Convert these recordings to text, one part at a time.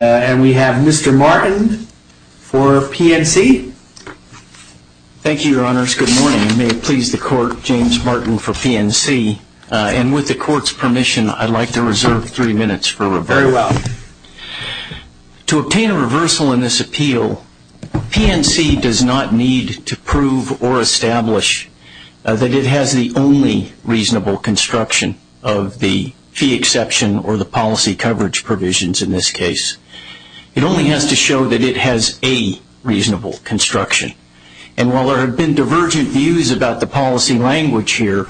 And we have Mr. Martin for PNC. Thank you, Your Honors. Good morning. May it please the Court, James Martin for PNC. And with the Court's permission, I'd like to reserve three minutes for reversal. Very well. To obtain a reversal in this appeal, PNC does not need to prove or establish that it has the only reasonable construction of the fee exception or the policy coverage provisions in this case. It only has to show that it has a reasonable construction. And while there have been divergent views about the policy language here,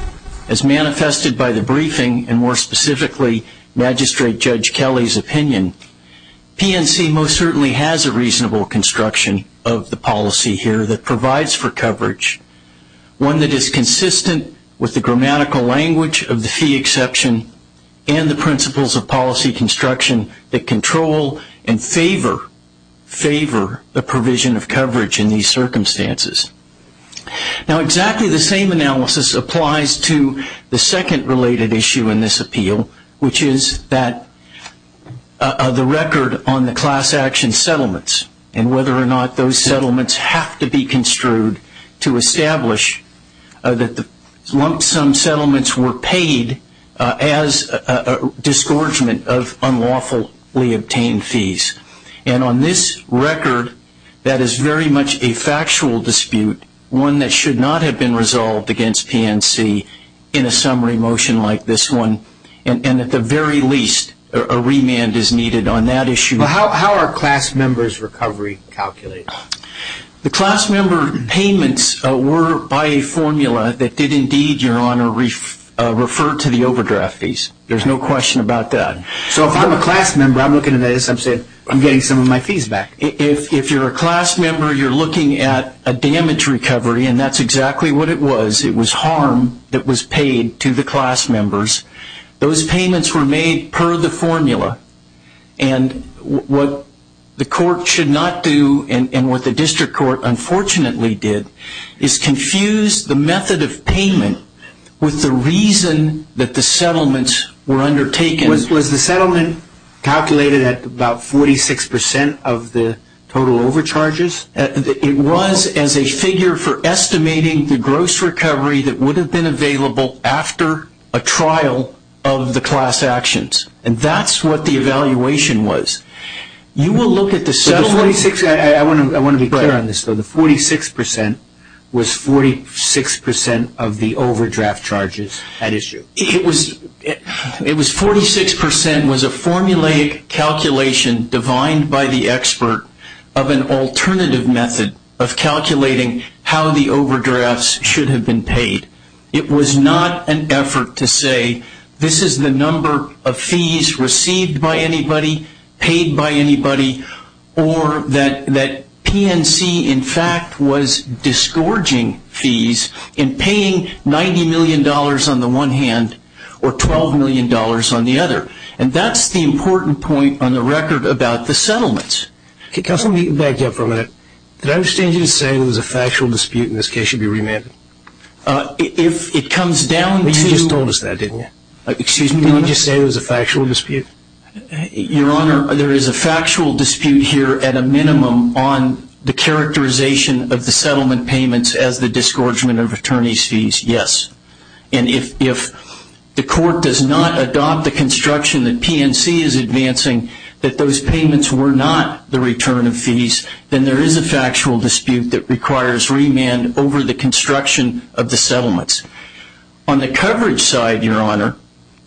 as manifested by the briefing and more specifically, Magistrate Judge Kelly's opinion, PNC most certainly has a reasonable construction of the policy here that provides for coverage, one that is consistent with the grammatical language of the fee exception and the principles of policy construction that control and favor the provision of coverage in these circumstances. Now, exactly the same analysis applies to the second related issue in this appeal, which is that of the record on the class action settlements and whether or not those settlements have to be construed to establish that the lump sum settlements were paid as a disgorgement of unlawfully obtained fees. And on this record, that is very much a factual dispute, one that should not have been resolved against PNC in a summary motion like this one. And at the very least, a remand is needed on that issue. How are class members' recovery calculated? The class member payments were by a formula that did indeed, Your Honor, refer to the overdraft fees. There's no question about that. So if I'm a class member, I'm looking at this, I'm getting some of my fees back. If you're a class member, you're looking at a damage recovery, and that's exactly what it was. It was harm that was paid to the class members. Those payments were made per the formula. And what the court should not do, and what the district court unfortunately did, is confuse the method of payment with the reason that the settlements were undertaken. Was the settlement calculated at about 46% of the total overcharges? It was as a figure for estimating the gross recovery that would have been available after a trial of the class actions. And that's what the evaluation was. You will look at the settlements. I want to be clear on this, though. The 46% was 46% of the overdraft charges at issue. It was 46% was a formulaic calculation divined by the expert of an alternative method of calculating how the overdrafts should have been paid. It was not an effort to say this is the number of fees received by anybody, paid by anybody, or that PNC in fact was disgorging fees in paying $90 million on the one hand or $12 million on the other. And that's the important point on the record about the settlements. Okay, counsel, let me back you up for a minute. Did I understand you to say it was a factual dispute and this case should be remanded? If it comes down to... You just told us that, didn't you? Excuse me? Did you just say it was a factual dispute? Your Honor, there is a factual dispute here at a minimum on the characterization of the settlement payments as the disgorgement of attorney's fees, yes. And if the court does not adopt the construction that PNC is advancing, that those payments were not the return of fees, then there is a factual dispute that requires remand over the construction of the settlements. On the coverage side, Your Honor,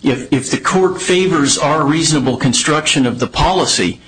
if the court favors our reasonable construction of the policy,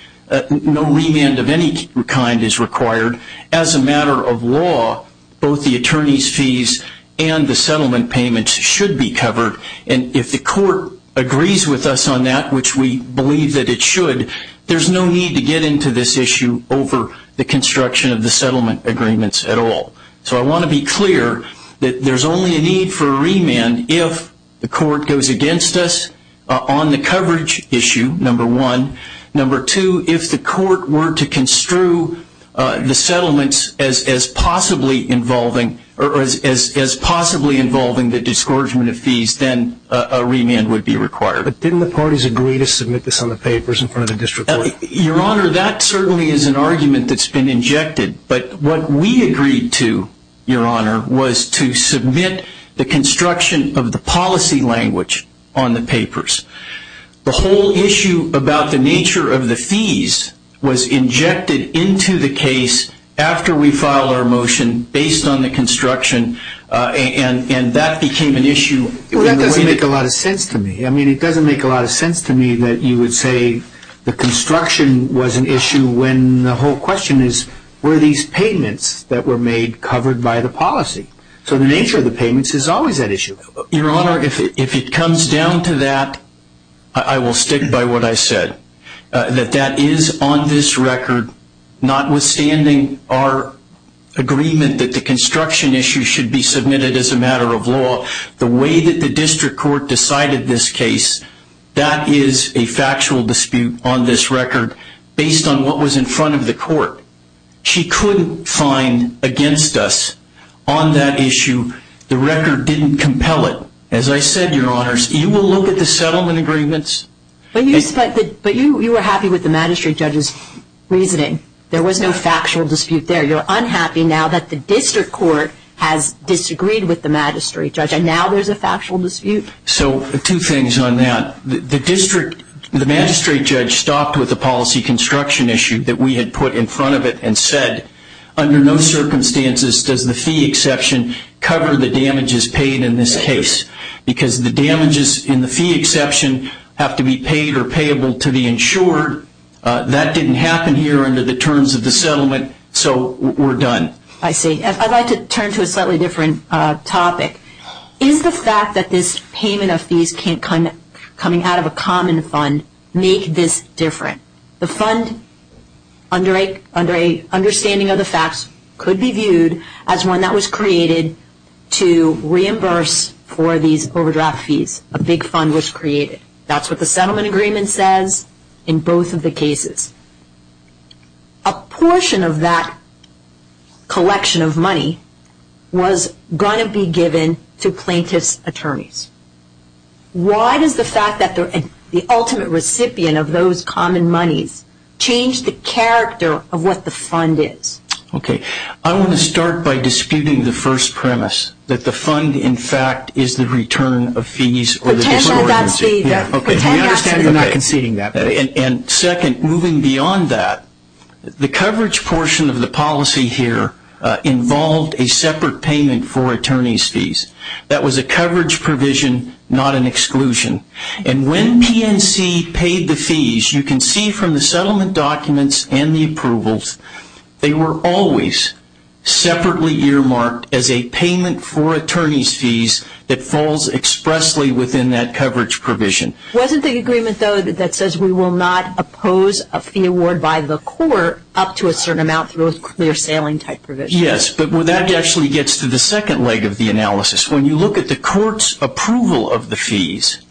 no remand of any kind is required. As a matter of law, both the attorney's fees and the settlement payments should be covered. And if the court agrees with us on that, which we believe that it should, there is no need to get into this issue over the construction of the settlement agreements at all. So I want to be clear that there is only a need for a remand if the court goes against us on the coverage issue, number one. Number two, if the court were to construe the settlements as possibly involving the disgorgement of fees, then a remand would be required. But didn't the parties agree to submit this on the papers in front of the district court? Your Honor, that certainly is an argument that's been injected. But what we agreed to, Your Honor, was to submit the construction of the policy language on the papers. The whole issue about the nature of the fees was injected into the case after we filed our motion based on the construction, and that became an issue. Well, that doesn't make a lot of sense to me. I mean, it doesn't make a lot of sense to me that you would say the construction was an issue when the whole question is, were these payments that were made covered by the policy? So the nature of the payments is always an issue. Your Honor, if it comes down to that, I will stick by what I said. That that is on this record, notwithstanding our agreement that the construction issue should be submitted as a matter of law, the way that the district court decided this case, that is a factual dispute on this record based on what was in front of the court. She couldn't find against us on that issue. The record didn't compel it. As I said, Your Honor, you will look at the settlement agreements. But you were happy with the magistrate judge's reasoning. There was no factual dispute there. You're unhappy now that the district court has disagreed with the magistrate judge, and now there's a factual dispute. So two things on that. The magistrate judge stopped with the policy construction issue that we had put in front of it and said, under no circumstances does the fee exception cover the damages paid in this case. Because the damages in the fee exception have to be paid or payable to the insured. That didn't happen here under the terms of the settlement. So we're done. I see. I'd like to turn to a slightly different topic. Is the fact that this payment of fees coming out of a common fund make this different? The fund, under a understanding of the facts, could be viewed as one that was created to reimburse for these overdraft fees. A big fund was created. That's what the settlement agreement says in both of the cases. A portion of that collection of money was going to be given to plaintiff's attorneys. Why does the fact that they're the ultimate recipient of those common monies change the character of what the fund is? Okay. I want to start by disputing the first premise, that the fund, in fact, is the return of fees. Potentially, that's the... Okay. We understand you're not conceding that. And second, moving beyond that, the coverage portion of the policy here involved a separate payment for attorney's fees. That was a coverage provision, not an exclusion. And when PNC paid the fees, you can see from the settlement documents and the approvals, they were always separately earmarked as a payment for attorney's fees that falls expressly within that coverage provision. Wasn't the agreement, though, that says we will not oppose a fee award by the court up to a certain amount through a clear-sailing type provision? Yes, but that actually gets to the second leg of the analysis. When you look at the court's approval of the fees,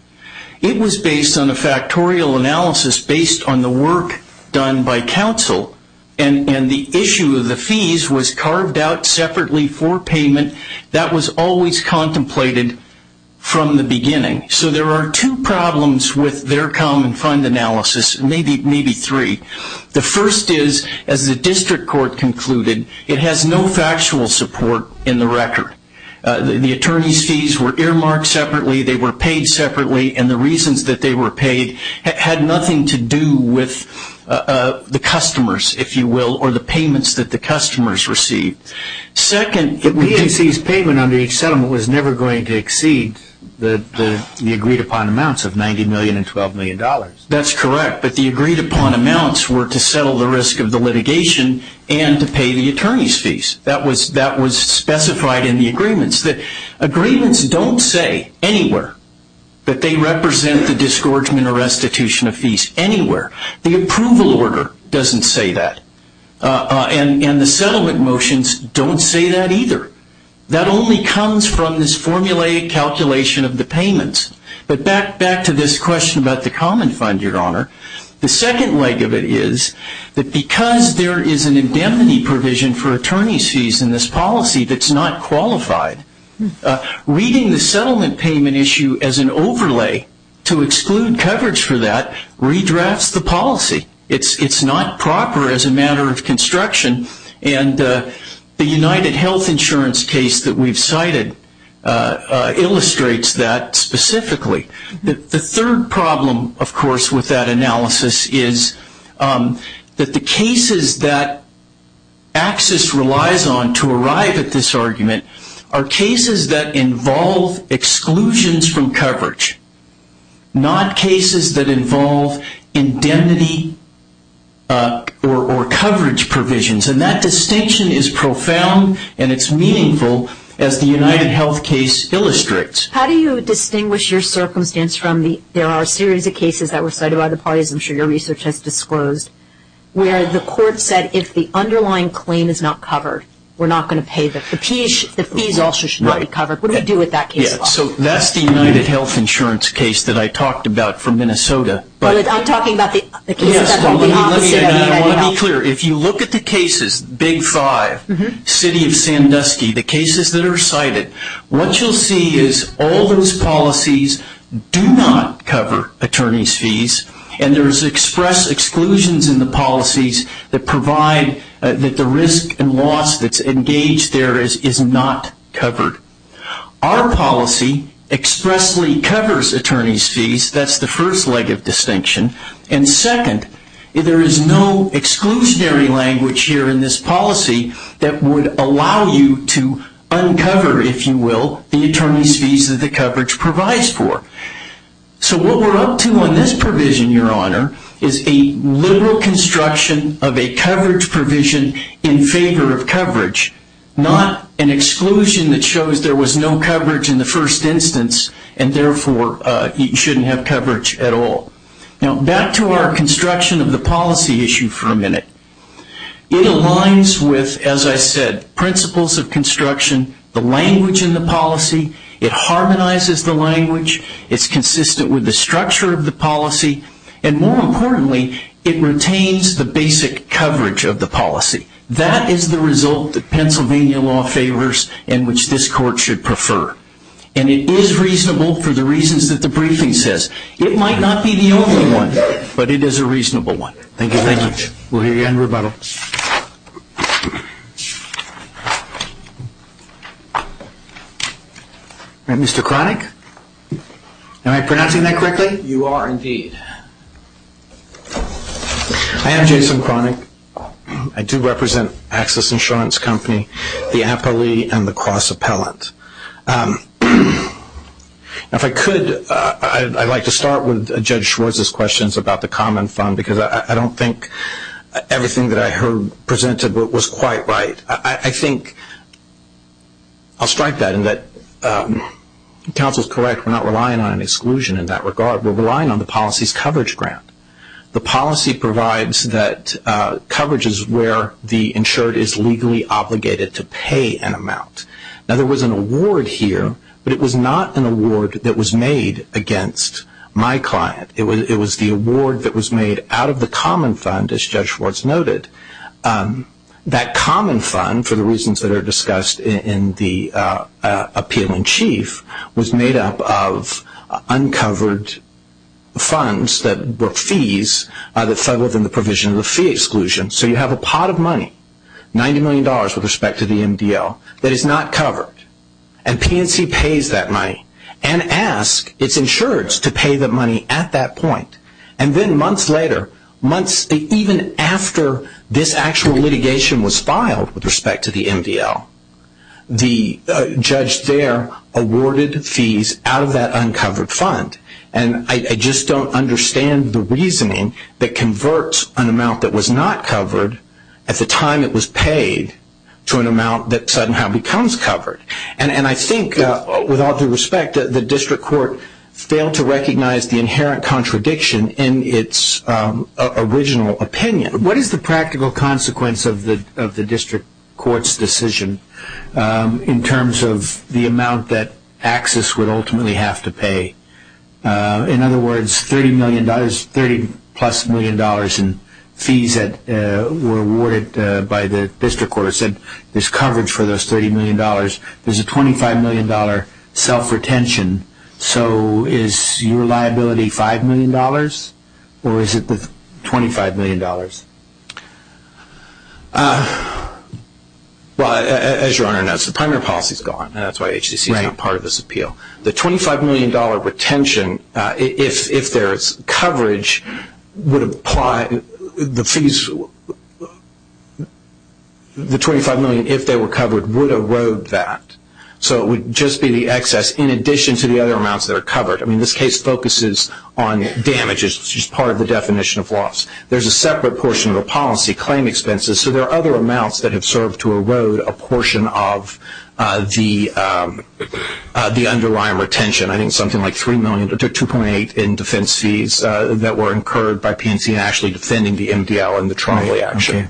it was based on a factorial analysis based on the work done by counsel. And the issue of the fees was carved out separately for payment. That was always contemplated from the beginning. So there are two problems with their common fund analysis, maybe three. The first is, as the district court concluded, it has no factual support in the record. The attorney's fees were earmarked separately, they were paid separately, and the reasons that they were paid had nothing to do with the customers, if you will, or the payments that the customers received. Second, the PAC's payment under each settlement was never going to exceed the agreed-upon amounts of $90 million and $12 million. That's correct, but the agreed-upon amounts were to settle the risk of the litigation and to pay the attorney's fees. That was specified in the agreements. Agreements don't say anywhere that they represent the disgorgement or restitution of fees anywhere. The approval order doesn't say that. And the settlement motions don't say that either. That only comes from this formulated calculation of the payments. But back to this question about the common fund, Your Honor, the second leg of it is that because there is an indemnity provision for attorney's fees in this policy that's not qualified, reading the settlement payment issue as an overlay to exclude coverage for that redrafts the policy. It's not proper as a matter of construction, and the UnitedHealth Insurance case that we've cited illustrates that specifically. The third problem, of course, with that analysis is that the cases that AXIS relies on to arrive at this argument are cases that involve exclusions from coverage, not cases that involve indemnity or coverage provisions. And that distinction is profound and it's meaningful as the UnitedHealth case illustrates. How do you distinguish your circumstance from the, there are a series of cases that were cited by the parties, I'm sure your research has disclosed, where the court said if the underlying claim is not covered, we're not going to pay the fees, the fees also should not be covered. What do we do with that case? So that's the UnitedHealth Insurance case that I talked about from Minnesota. I'm talking about the case that's on the opposite of UnitedHealth. If you look at the cases, Big Five, City of Sandusky, the cases that are cited, what you'll see is all those policies do not cover attorney's fees, and there's express exclusions in the policies that provide that the risk and loss that's engaged there is not covered. Our policy expressly covers attorney's fees, that's the first leg of distinction. And second, there is no exclusionary language here in this policy that would allow you to uncover, if you will, the attorney's fees that the coverage provides for. So what we're up to on this provision, Your Honor, is a liberal construction of a coverage provision in favor of coverage, not an exclusion that shows there was no coverage in the first instance and therefore you shouldn't have coverage at all. Now back to our construction of the policy issue for a minute. It aligns with, as I said, principles of construction, the language in the policy, it harmonizes the language, it's consistent with the structure of the policy, and more importantly, it retains the basic coverage of the policy. That is the result that Pennsylvania law favors and which this Court should prefer. And it is reasonable for the reasons that the briefing says. It might not be the only one, but it is a reasonable one. Thank you very much. We'll hear you in rebuttal. Mr. Kronick? Am I pronouncing that correctly? You are, indeed. I am Jason Kronick. I do represent Access Insurance Company, the appellee, and the cross-appellant. Now if I could, I'd like to start with Judge Schwartz's questions about the Common Fund because I don't think everything that I heard presented was quite right. I think I'll strike that in that counsel's correct. We're not relying on an exclusion in that regard. We're relying on the policy's coverage grant. The policy provides that coverage is where the insured is legally obligated to pay an amount. Now there was an award here, but it was not an award that was made against my client. It was the award that was made out of the Common Fund, as Judge Schwartz noted. That Common Fund, for the reasons that are discussed in the appeal in chief, was made up of uncovered funds that were fees that fell within the provision of the fee exclusion. So you have a pot of money, $90 million with respect to the MDL, that is not covered. And PNC pays that money and asks its insureds to pay the money at that point. And then months later, months even after this actual litigation was filed with respect to the MDL, the judge there awarded fees out of that uncovered fund. And I just don't understand the reasoning that converts an amount that was not covered at the time it was paid to an amount that somehow becomes covered. And I think, with all due respect, the district court failed to recognize the inherent contradiction in its original opinion. What is the practical consequence of the district court's decision in terms of the amount that Axis would ultimately have to pay? In other words, $30 million, $30 plus million in fees that were awarded by the district court said there's coverage for those $30 million. There's a $25 million self-retention. So is your liability $5 million? Or is it the $25 million? Well, as Your Honor knows, the primary policy is gone. And that's why HCC is not part of this appeal. The $25 million retention, if there's coverage, would apply. The fees, the $25 million, if they were covered, would erode that. So it would just be the excess in addition to the other amounts that are covered. I mean, this case focuses on damages, which is part of the definition of loss. There's a separate portion of the policy, claim expenses. So there are other amounts that have served to erode a portion of the underlying retention. I think something like $3 million to $2.8 million in defense fees that were incurred by PNC actually defending the MDL and the trial reaction.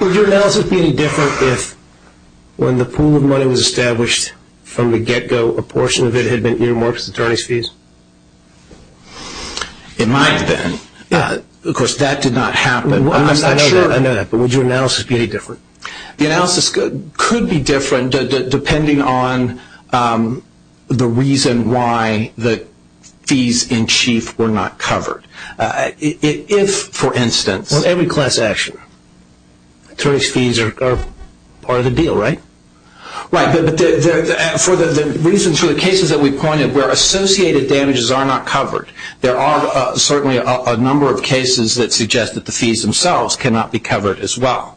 Would your analysis be any different if, when the pool of money was established from the get-go, a portion of it had been earmarked as attorney's fees? It might have been. Of course, that did not happen. I'm not sure. But would your analysis be any different? The analysis could be different depending on the reason why the fees in chief were not covered. If, for instance... Well, every class action, attorney's fees are part of the deal, right? Right. But the reasons for the cases that we pointed where associated damages are not covered, there are certainly a number of cases that suggest that the fees themselves cannot be covered as well.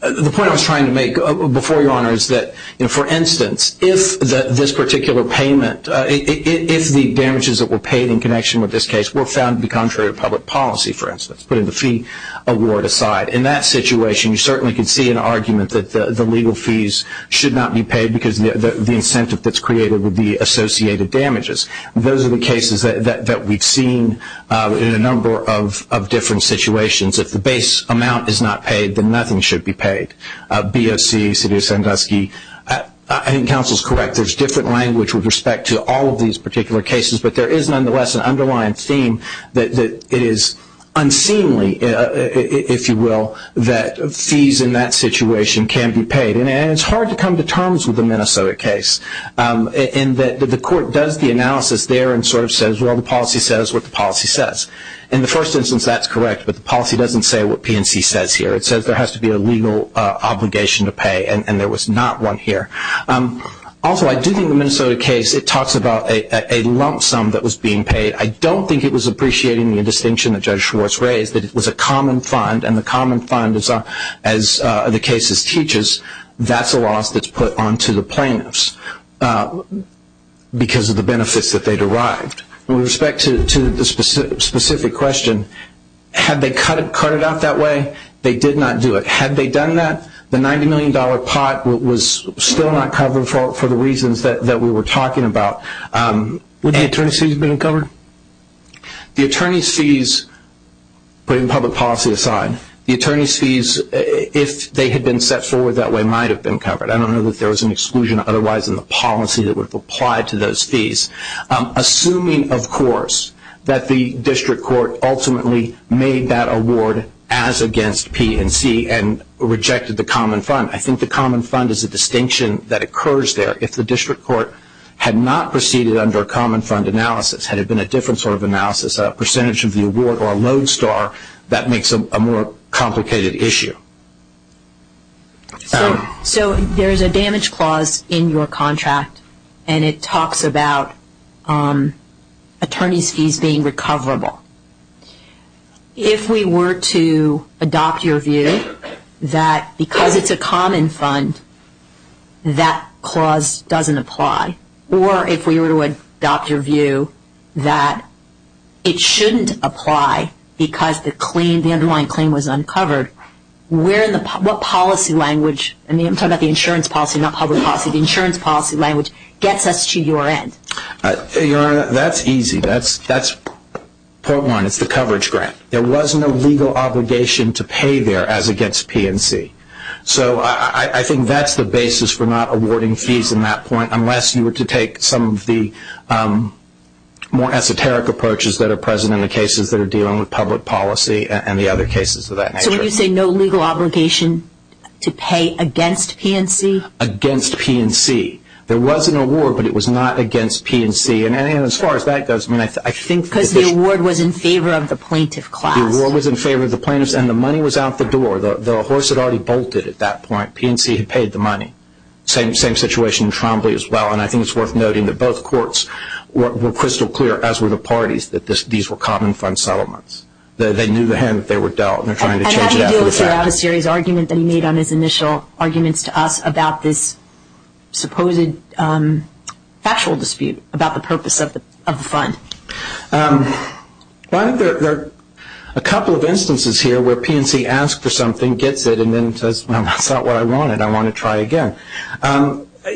The point I was trying to make before, Your Honor, is that, for instance, if this particular payment, if the damages that were paid in connection with this case were found to be contrary to public policy, for instance, putting the fee award aside, in that situation you certainly could see an argument that the legal fees should not be paid because the incentive that's created would be associated damages. Those are the cases that we've seen in a number of different situations. If the base amount is not paid, then nothing should be paid. BOC, Sidio Sandusky. I think counsel's correct. There's different language with respect to all of these particular cases, but there is nonetheless an underlying theme that it is unseemly, if you will, that fees in that situation can be paid. And it's hard to come to terms with the Minnesota case. The court does the analysis there and sort of says, well, the policy says what the policy says. In the first instance, that's correct, but the policy doesn't say what PNC says here. It says there has to be a legal obligation to pay, and there was not one here. Also, I do think the Minnesota case, it talks about a lump sum that was being paid. I don't think it was appreciating the distinction that Judge Schwartz raised, that it was a common fund, and the common fund, as the case teaches, that's a loss that's put onto the plaintiffs because of the benefits that they derived. With respect to the specific question, had they cut it out that way, they did not do it. Had they done that, the $90 million pot was still not covered for the reasons that we were talking about. Would the attorney's fees have been covered? The attorney's fees, putting public policy aside, the attorney's fees, if they had been set forward that way, might have been covered. I don't know that there was an exclusion otherwise in the policy that would have applied to those fees. Assuming, of course, that the district court ultimately made that award as against PNC and rejected the common fund. I think the common fund is a distinction that occurs there. If the district court had not proceeded under a common fund analysis, had it been a different sort of analysis, a percentage of the award or a load star, that makes a more complicated issue. There is a damage clause in your contract and it talks about attorney's fees being recoverable. If we were to adopt your view that because it's a common fund, that clause doesn't apply. Or if we were to adopt your view that it shouldn't apply because the underlying claim was uncovered, what policy language, I'm talking about the insurance policy, not public policy, the insurance policy language gets us to your end? Your Honor, that's easy. That's point one. It's the coverage grant. There was no legal obligation to pay there as against PNC. So I think that's the basis for not awarding fees in that point, unless you were to take some of the more esoteric approaches that are present in the cases that are dealing with public policy and the other cases of that nature. So when you say no legal obligation to pay against PNC? Against PNC. There was an award, but it was not against PNC. And as far as that goes, I think... Because the award was in favor of the plaintiff class. The award was in favor of the plaintiffs and the money was out the door. The horse had already bolted at that point. PNC had paid the money. Same situation in Trombley as well. And I think it's worth noting that both courts were crystal clear, as were the parties, that these were common fund settlements. They knew the hand that they were dealt and they're trying to change it after the fact. And how do you deal throughout a series of arguments that he made on his initial arguments to us about this supposed factual dispute about the purpose of the fund? Well, I think there are a couple of instances here where PNC asks for something, gets it, and then says, well, that's not what I wanted. I want to try again.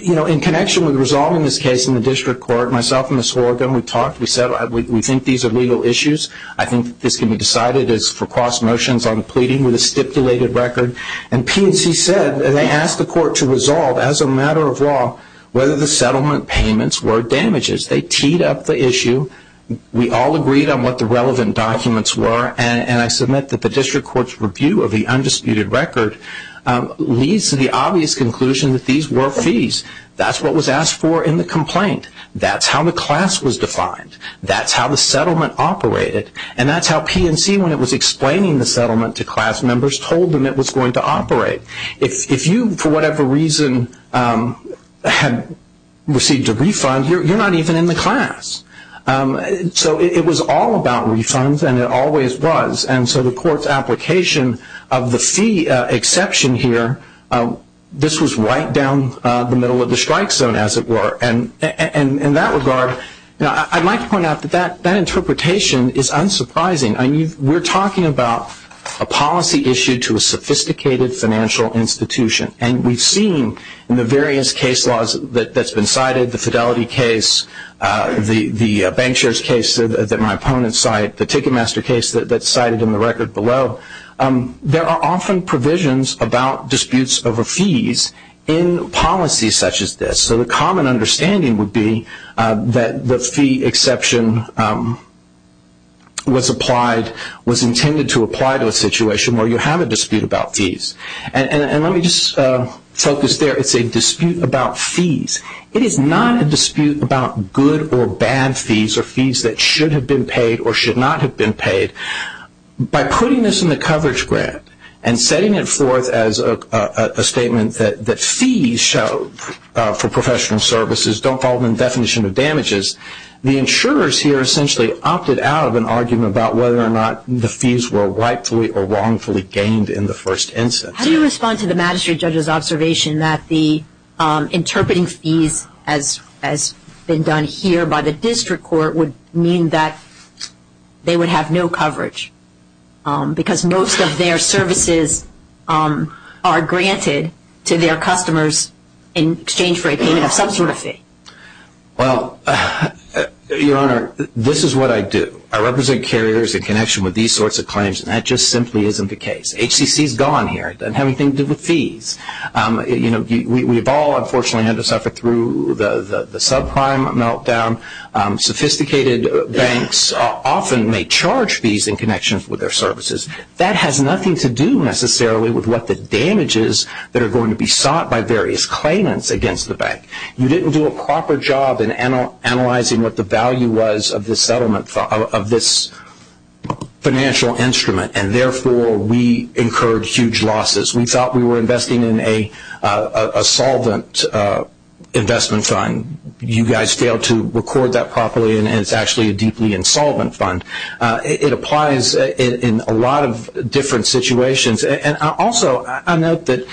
You know, in connection with resolving this case in the district court, myself and Ms. Horgan, we talked. We said we think these are legal issues. I think this can be decided as for cross motions on the pleading with a stipulated record. And PNC said, and they asked the court to resolve as a matter of law, whether the settlement payments were damages. They teed up the issue. We all agreed on what the relevant documents were. And I submit that the district court's review of the undisputed record leads to the obvious conclusion that these were fees. That's what was asked for in the complaint. That's how the class was defined. That's how the settlement operated. And that's how PNC, when it was explaining the settlement to class members, told them it was going to operate. If you, for whatever reason, had received a refund, you're not even in the class. So it was all about refunds, and it always was. And so the court's application of the fee exception here, this was right down the middle of the strike zone, as it were. And in that regard, I'd like to point out that that interpretation is unsurprising. We're talking about a policy issue to a sophisticated financial institution. And we've seen in the various case laws that's been cited, the Fidelity case, the bank shares case that my opponents cite, the Ticketmaster case that's cited in the record below, there are often provisions about disputes over fees in policies such as this. So the common understanding would be that the fee exception was intended to apply to a situation where you have a dispute about fees. And let me just focus there. It's a dispute about fees. It is not a dispute about good or bad fees, or fees that should have been paid or should not have been paid. By putting this in the coverage grant and setting it forth as a statement that fees show for professional services don't fall within the definition of damages, the insurers here essentially opted out of an argument about whether or not the fees were rightfully or wrongfully gained in the first instance. How do you respond to the magistrate judge's observation that the interpreting fees as been done here by the district court would mean that they would have no coverage? Because most of their services are granted to their customers in exchange for a payment of some sort of fee. Well, Your Honor, this is what I do. I represent carriers in connection with these sorts of claims, and that just simply isn't the case. HCC's gone here. It doesn't have anything to do with fees. We've all unfortunately had to suffer through the subprime meltdown. Sophisticated banks often may charge fees in connection with their services. That has nothing to do necessarily with what the damage is that are going to be sought by various claimants against the bank. You didn't do a proper job in analyzing what the value was of this settlement, of this financial instrument, and therefore we incurred huge losses. We thought we were investing in a solvent investment fund. You guys failed to record that properly, and it's actually a deeply insolvent fund. It applies in a lot of different situations. Also, I note that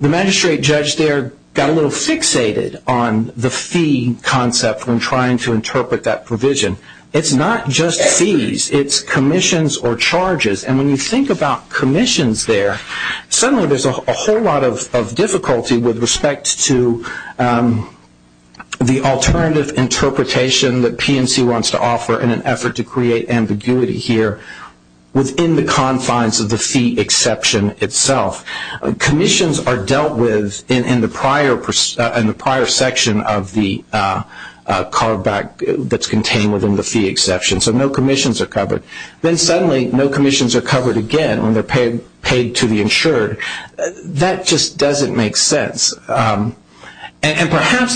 the magistrate judge there got a little fixated on the fee concept when trying to interpret that provision. It's not just fees. It's commissions or charges. When you think about commissions there, suddenly there's a whole lot of difficulty with respect to the alternative interpretation that PNC wants to offer in an effort to create ambiguity here within the confines of the fee exception itself. Commissions are dealt with in the prior section of the carveback that's contained within the fee exception, so no commissions are covered. Then suddenly no commissions are covered again when they're paid to the insured. That just doesn't make sense. Perhaps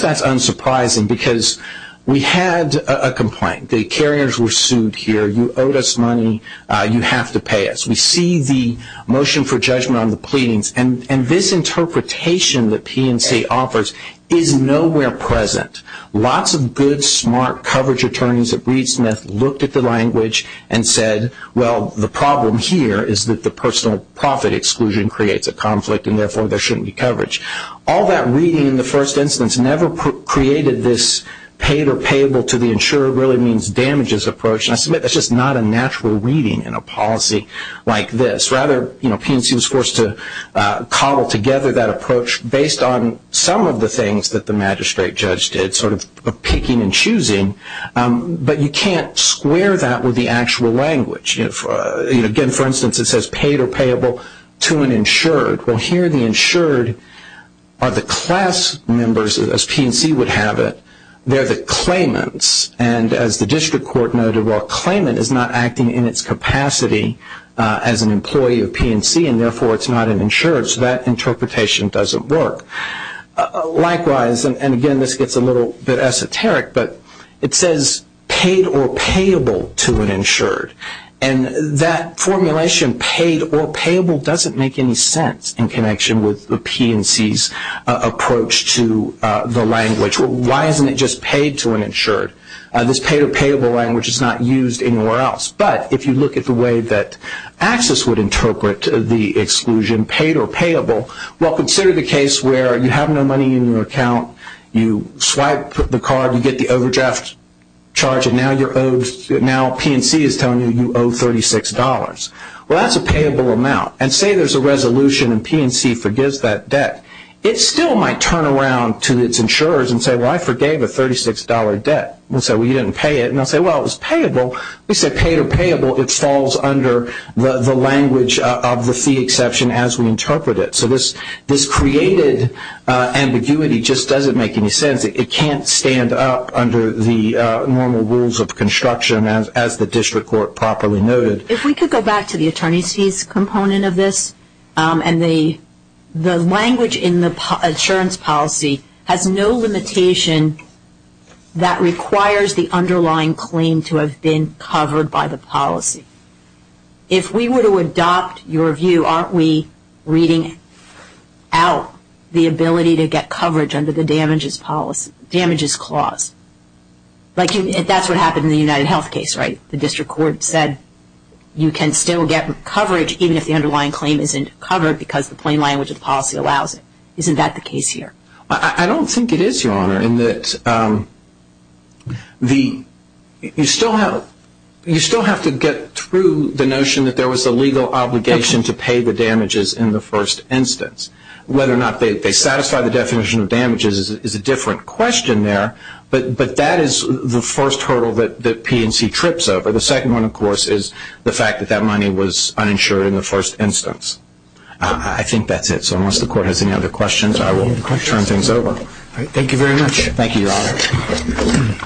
that's unsurprising because we had a complaint. The carriers were sued here. You owed us money. You have to pay us. We see the motion for judgment on the pleadings, and this interpretation that PNC offers is nowhere present. Lots of good, smart coverage attorneys at Reed Smith looked at the language and said, well, the problem here is that the personal profit exclusion creates a conflict, and therefore there shouldn't be coverage. All that reading in the first instance never created this paid or payable to the insured really means damages approach. I submit that's just not a natural reading in a policy like this. Rather, PNC was forced to cobble together that approach based on some of the things that the magistrate judge did, sort of picking and choosing, but you can't square that with the actual language. Again, for instance, it says paid or payable to an insured. Well, here the insured are the class members, as PNC would have it. They're the claimants, and as the district court noted, well, a claimant is not acting in its capacity as an employee of PNC, and therefore it's not an insured, so that interpretation doesn't work. Likewise, and again, this gets a little bit esoteric, but it says paid or payable to an insured, and that formulation, paid or payable, doesn't make any sense in connection with the PNC's approach to the language. Why isn't it just paid to an insured? This paid or payable language is not used anywhere else, but if you look at the way that Axis would interpret the exclusion, paid or payable, well, consider the case where you have no money in your account, you swipe the card, you get the overdraft charge, and now PNC is telling you you owe $36. Well, that's a payable amount, and say there's a resolution and PNC forgives that debt. It still might turn around to its insurers and say, well, I forgave a $36 debt, and say, well, you didn't pay it, and they'll say, well, it was payable. We say paid or payable, it falls under the language of the fee exception as we interpret it. So this created ambiguity just doesn't make any sense. It can't stand up under the normal rules of construction as the district court properly noted. If we could go back to the attorney's fees component of this, and the language in the insurance policy has no limitation that requires the underlying claim to have been covered by the policy. If we were to adopt your view, aren't we reading out the ability to get coverage under the damages clause? That's what happened in the UnitedHealth case, right? The district court said you can still get coverage even if the underlying claim isn't covered because the plain language of the policy allows it. Isn't that the case here? I don't think it is, Your Honor, in that you still have to get through the notion that there was a legal obligation to pay the damages in the first instance. Whether or not they satisfy the definition of damages is a different question there, but that is the first hurdle that P&C trips over. The second one, of course, is the fact that that money was uninsured in the first instance. I think that's it. So unless the court has any other questions, I will turn things over. Thank you very much. Thank you, Your Honor.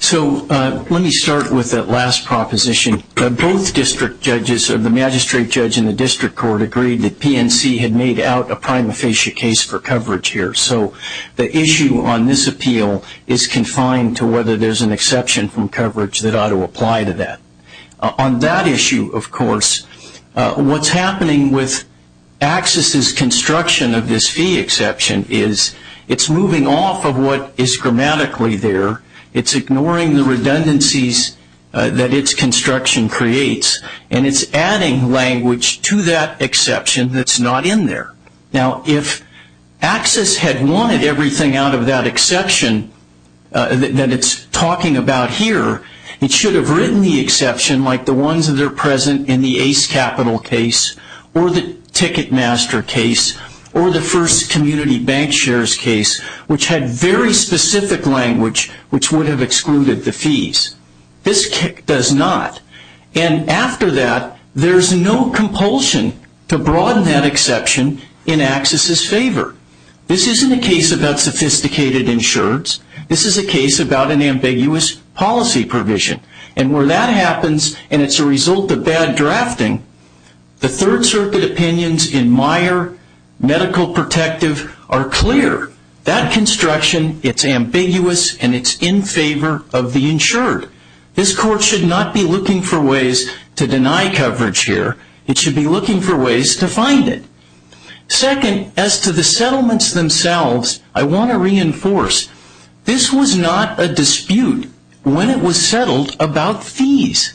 So let me start with that last proposition. Both district judges, the magistrate judge and the district court, agreed that P&C had made out a prima facie case for coverage here. So the issue on this appeal is confined to whether there's an exception from coverage that ought to apply to that. On that issue, of course, what's happening with AXIS's construction of this fee exception is it's moving off of what is grammatically there, it's ignoring the redundancies that its construction creates, and it's adding language to that exception that's not in there. Now, if AXIS had wanted everything out of that exception that it's talking about here, it should have written the exception like the ones that are present in the Ace Capital case, or the Ticketmaster case, or the first community bank shares case, which had very specific language which would have excluded the fees. This does not. And after that, there's no compulsion to broaden that exception in AXIS's favor. This isn't a case about sophisticated insurance. This is a case about an ambiguous policy provision. And where that happens, and it's a result of bad drafting, the Third Circuit opinions in Meyer Medical Protective are clear. That construction, it's ambiguous, and it's in favor of the insured. This Court should not be looking for ways to deny coverage here. It should be looking for ways to find it. Second, as to the settlements themselves, I want to reinforce. This was not a dispute when it was settled about fees.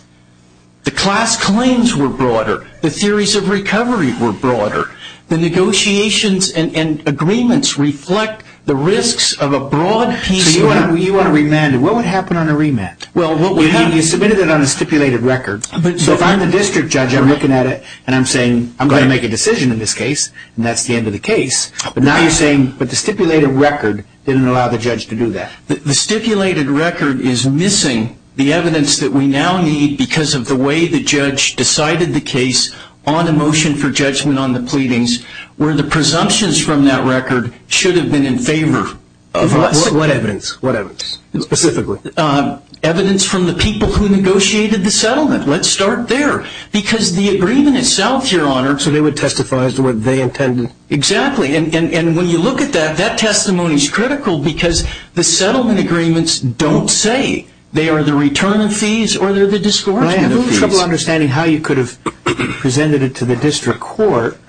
The class claims were broader. The theories of recovery were broader. The negotiations and agreements reflect the risks of a broad PCA. So you want to remand it. What would happen on a remand? You submitted it on a stipulated record. So if I'm the district judge, I'm looking at it, and I'm saying, I'm going to make a decision in this case, and that's the end of the case. But now you're saying, but the stipulated record didn't allow the judge to do that. The stipulated record is missing the evidence that we now need because of the way the judge decided the case on a motion for judgment on the pleadings, where the presumptions from that record should have been in favor of us. What evidence? What evidence? Specifically? Evidence from the people who negotiated the settlement. Let's start there. Because the agreement itself, Your Honor. So they would testify as to what they intended? Exactly, and when you look at that, that testimony is critical because the settlement agreements don't say they are the return of fees or they're the discouragement of fees. I have a little trouble understanding how you could have presented it to the district court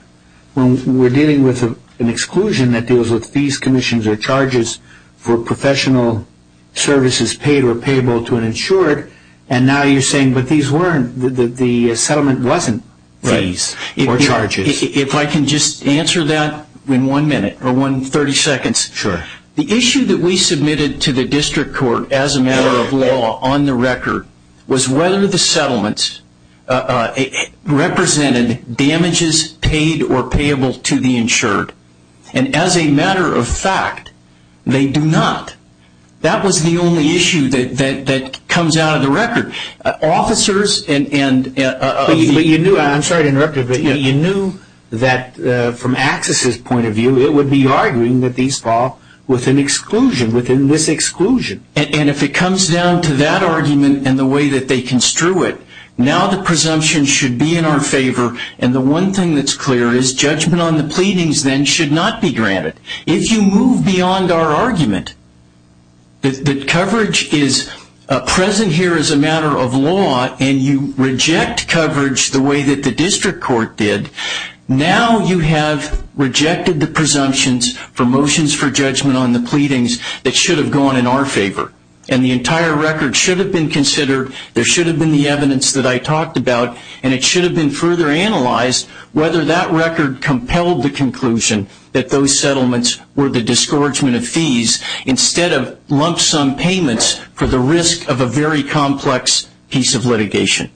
when we're dealing with an exclusion that deals with fees, commissions, or charges for professional services paid or payable to an insured, and now you're saying, but these weren't, the settlement wasn't fees or charges. If I can just answer that in one minute or one thirty seconds. Sure. The issue that we submitted to the district court as a matter of law on the record was whether the settlement represented damages paid or payable to the insured. And as a matter of fact, they do not. That was the only issue that comes out of the record. Officers and... I'm sorry to interrupt you, but you knew that from AXIS's point of view, it would be arguing that these fall within exclusion, within this exclusion. And if it comes down to that argument and the way that they construe it, now the presumption should be in our favor, and the one thing that's clear is judgment on the pleadings then should not be granted. If you move beyond our argument that coverage is present here as a matter of law and you reject coverage the way that the district court did, now you have rejected the presumptions for motions for judgment on the pleadings that should have gone in our favor. And the entire record should have been considered, there should have been the evidence that I talked about, and it should have been further analyzed whether that record compelled the conclusion that those settlements were the disgorgement of fees instead of lump sum payments for the risk of a very complex piece of litigation.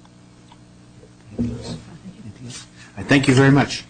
Thank you very much.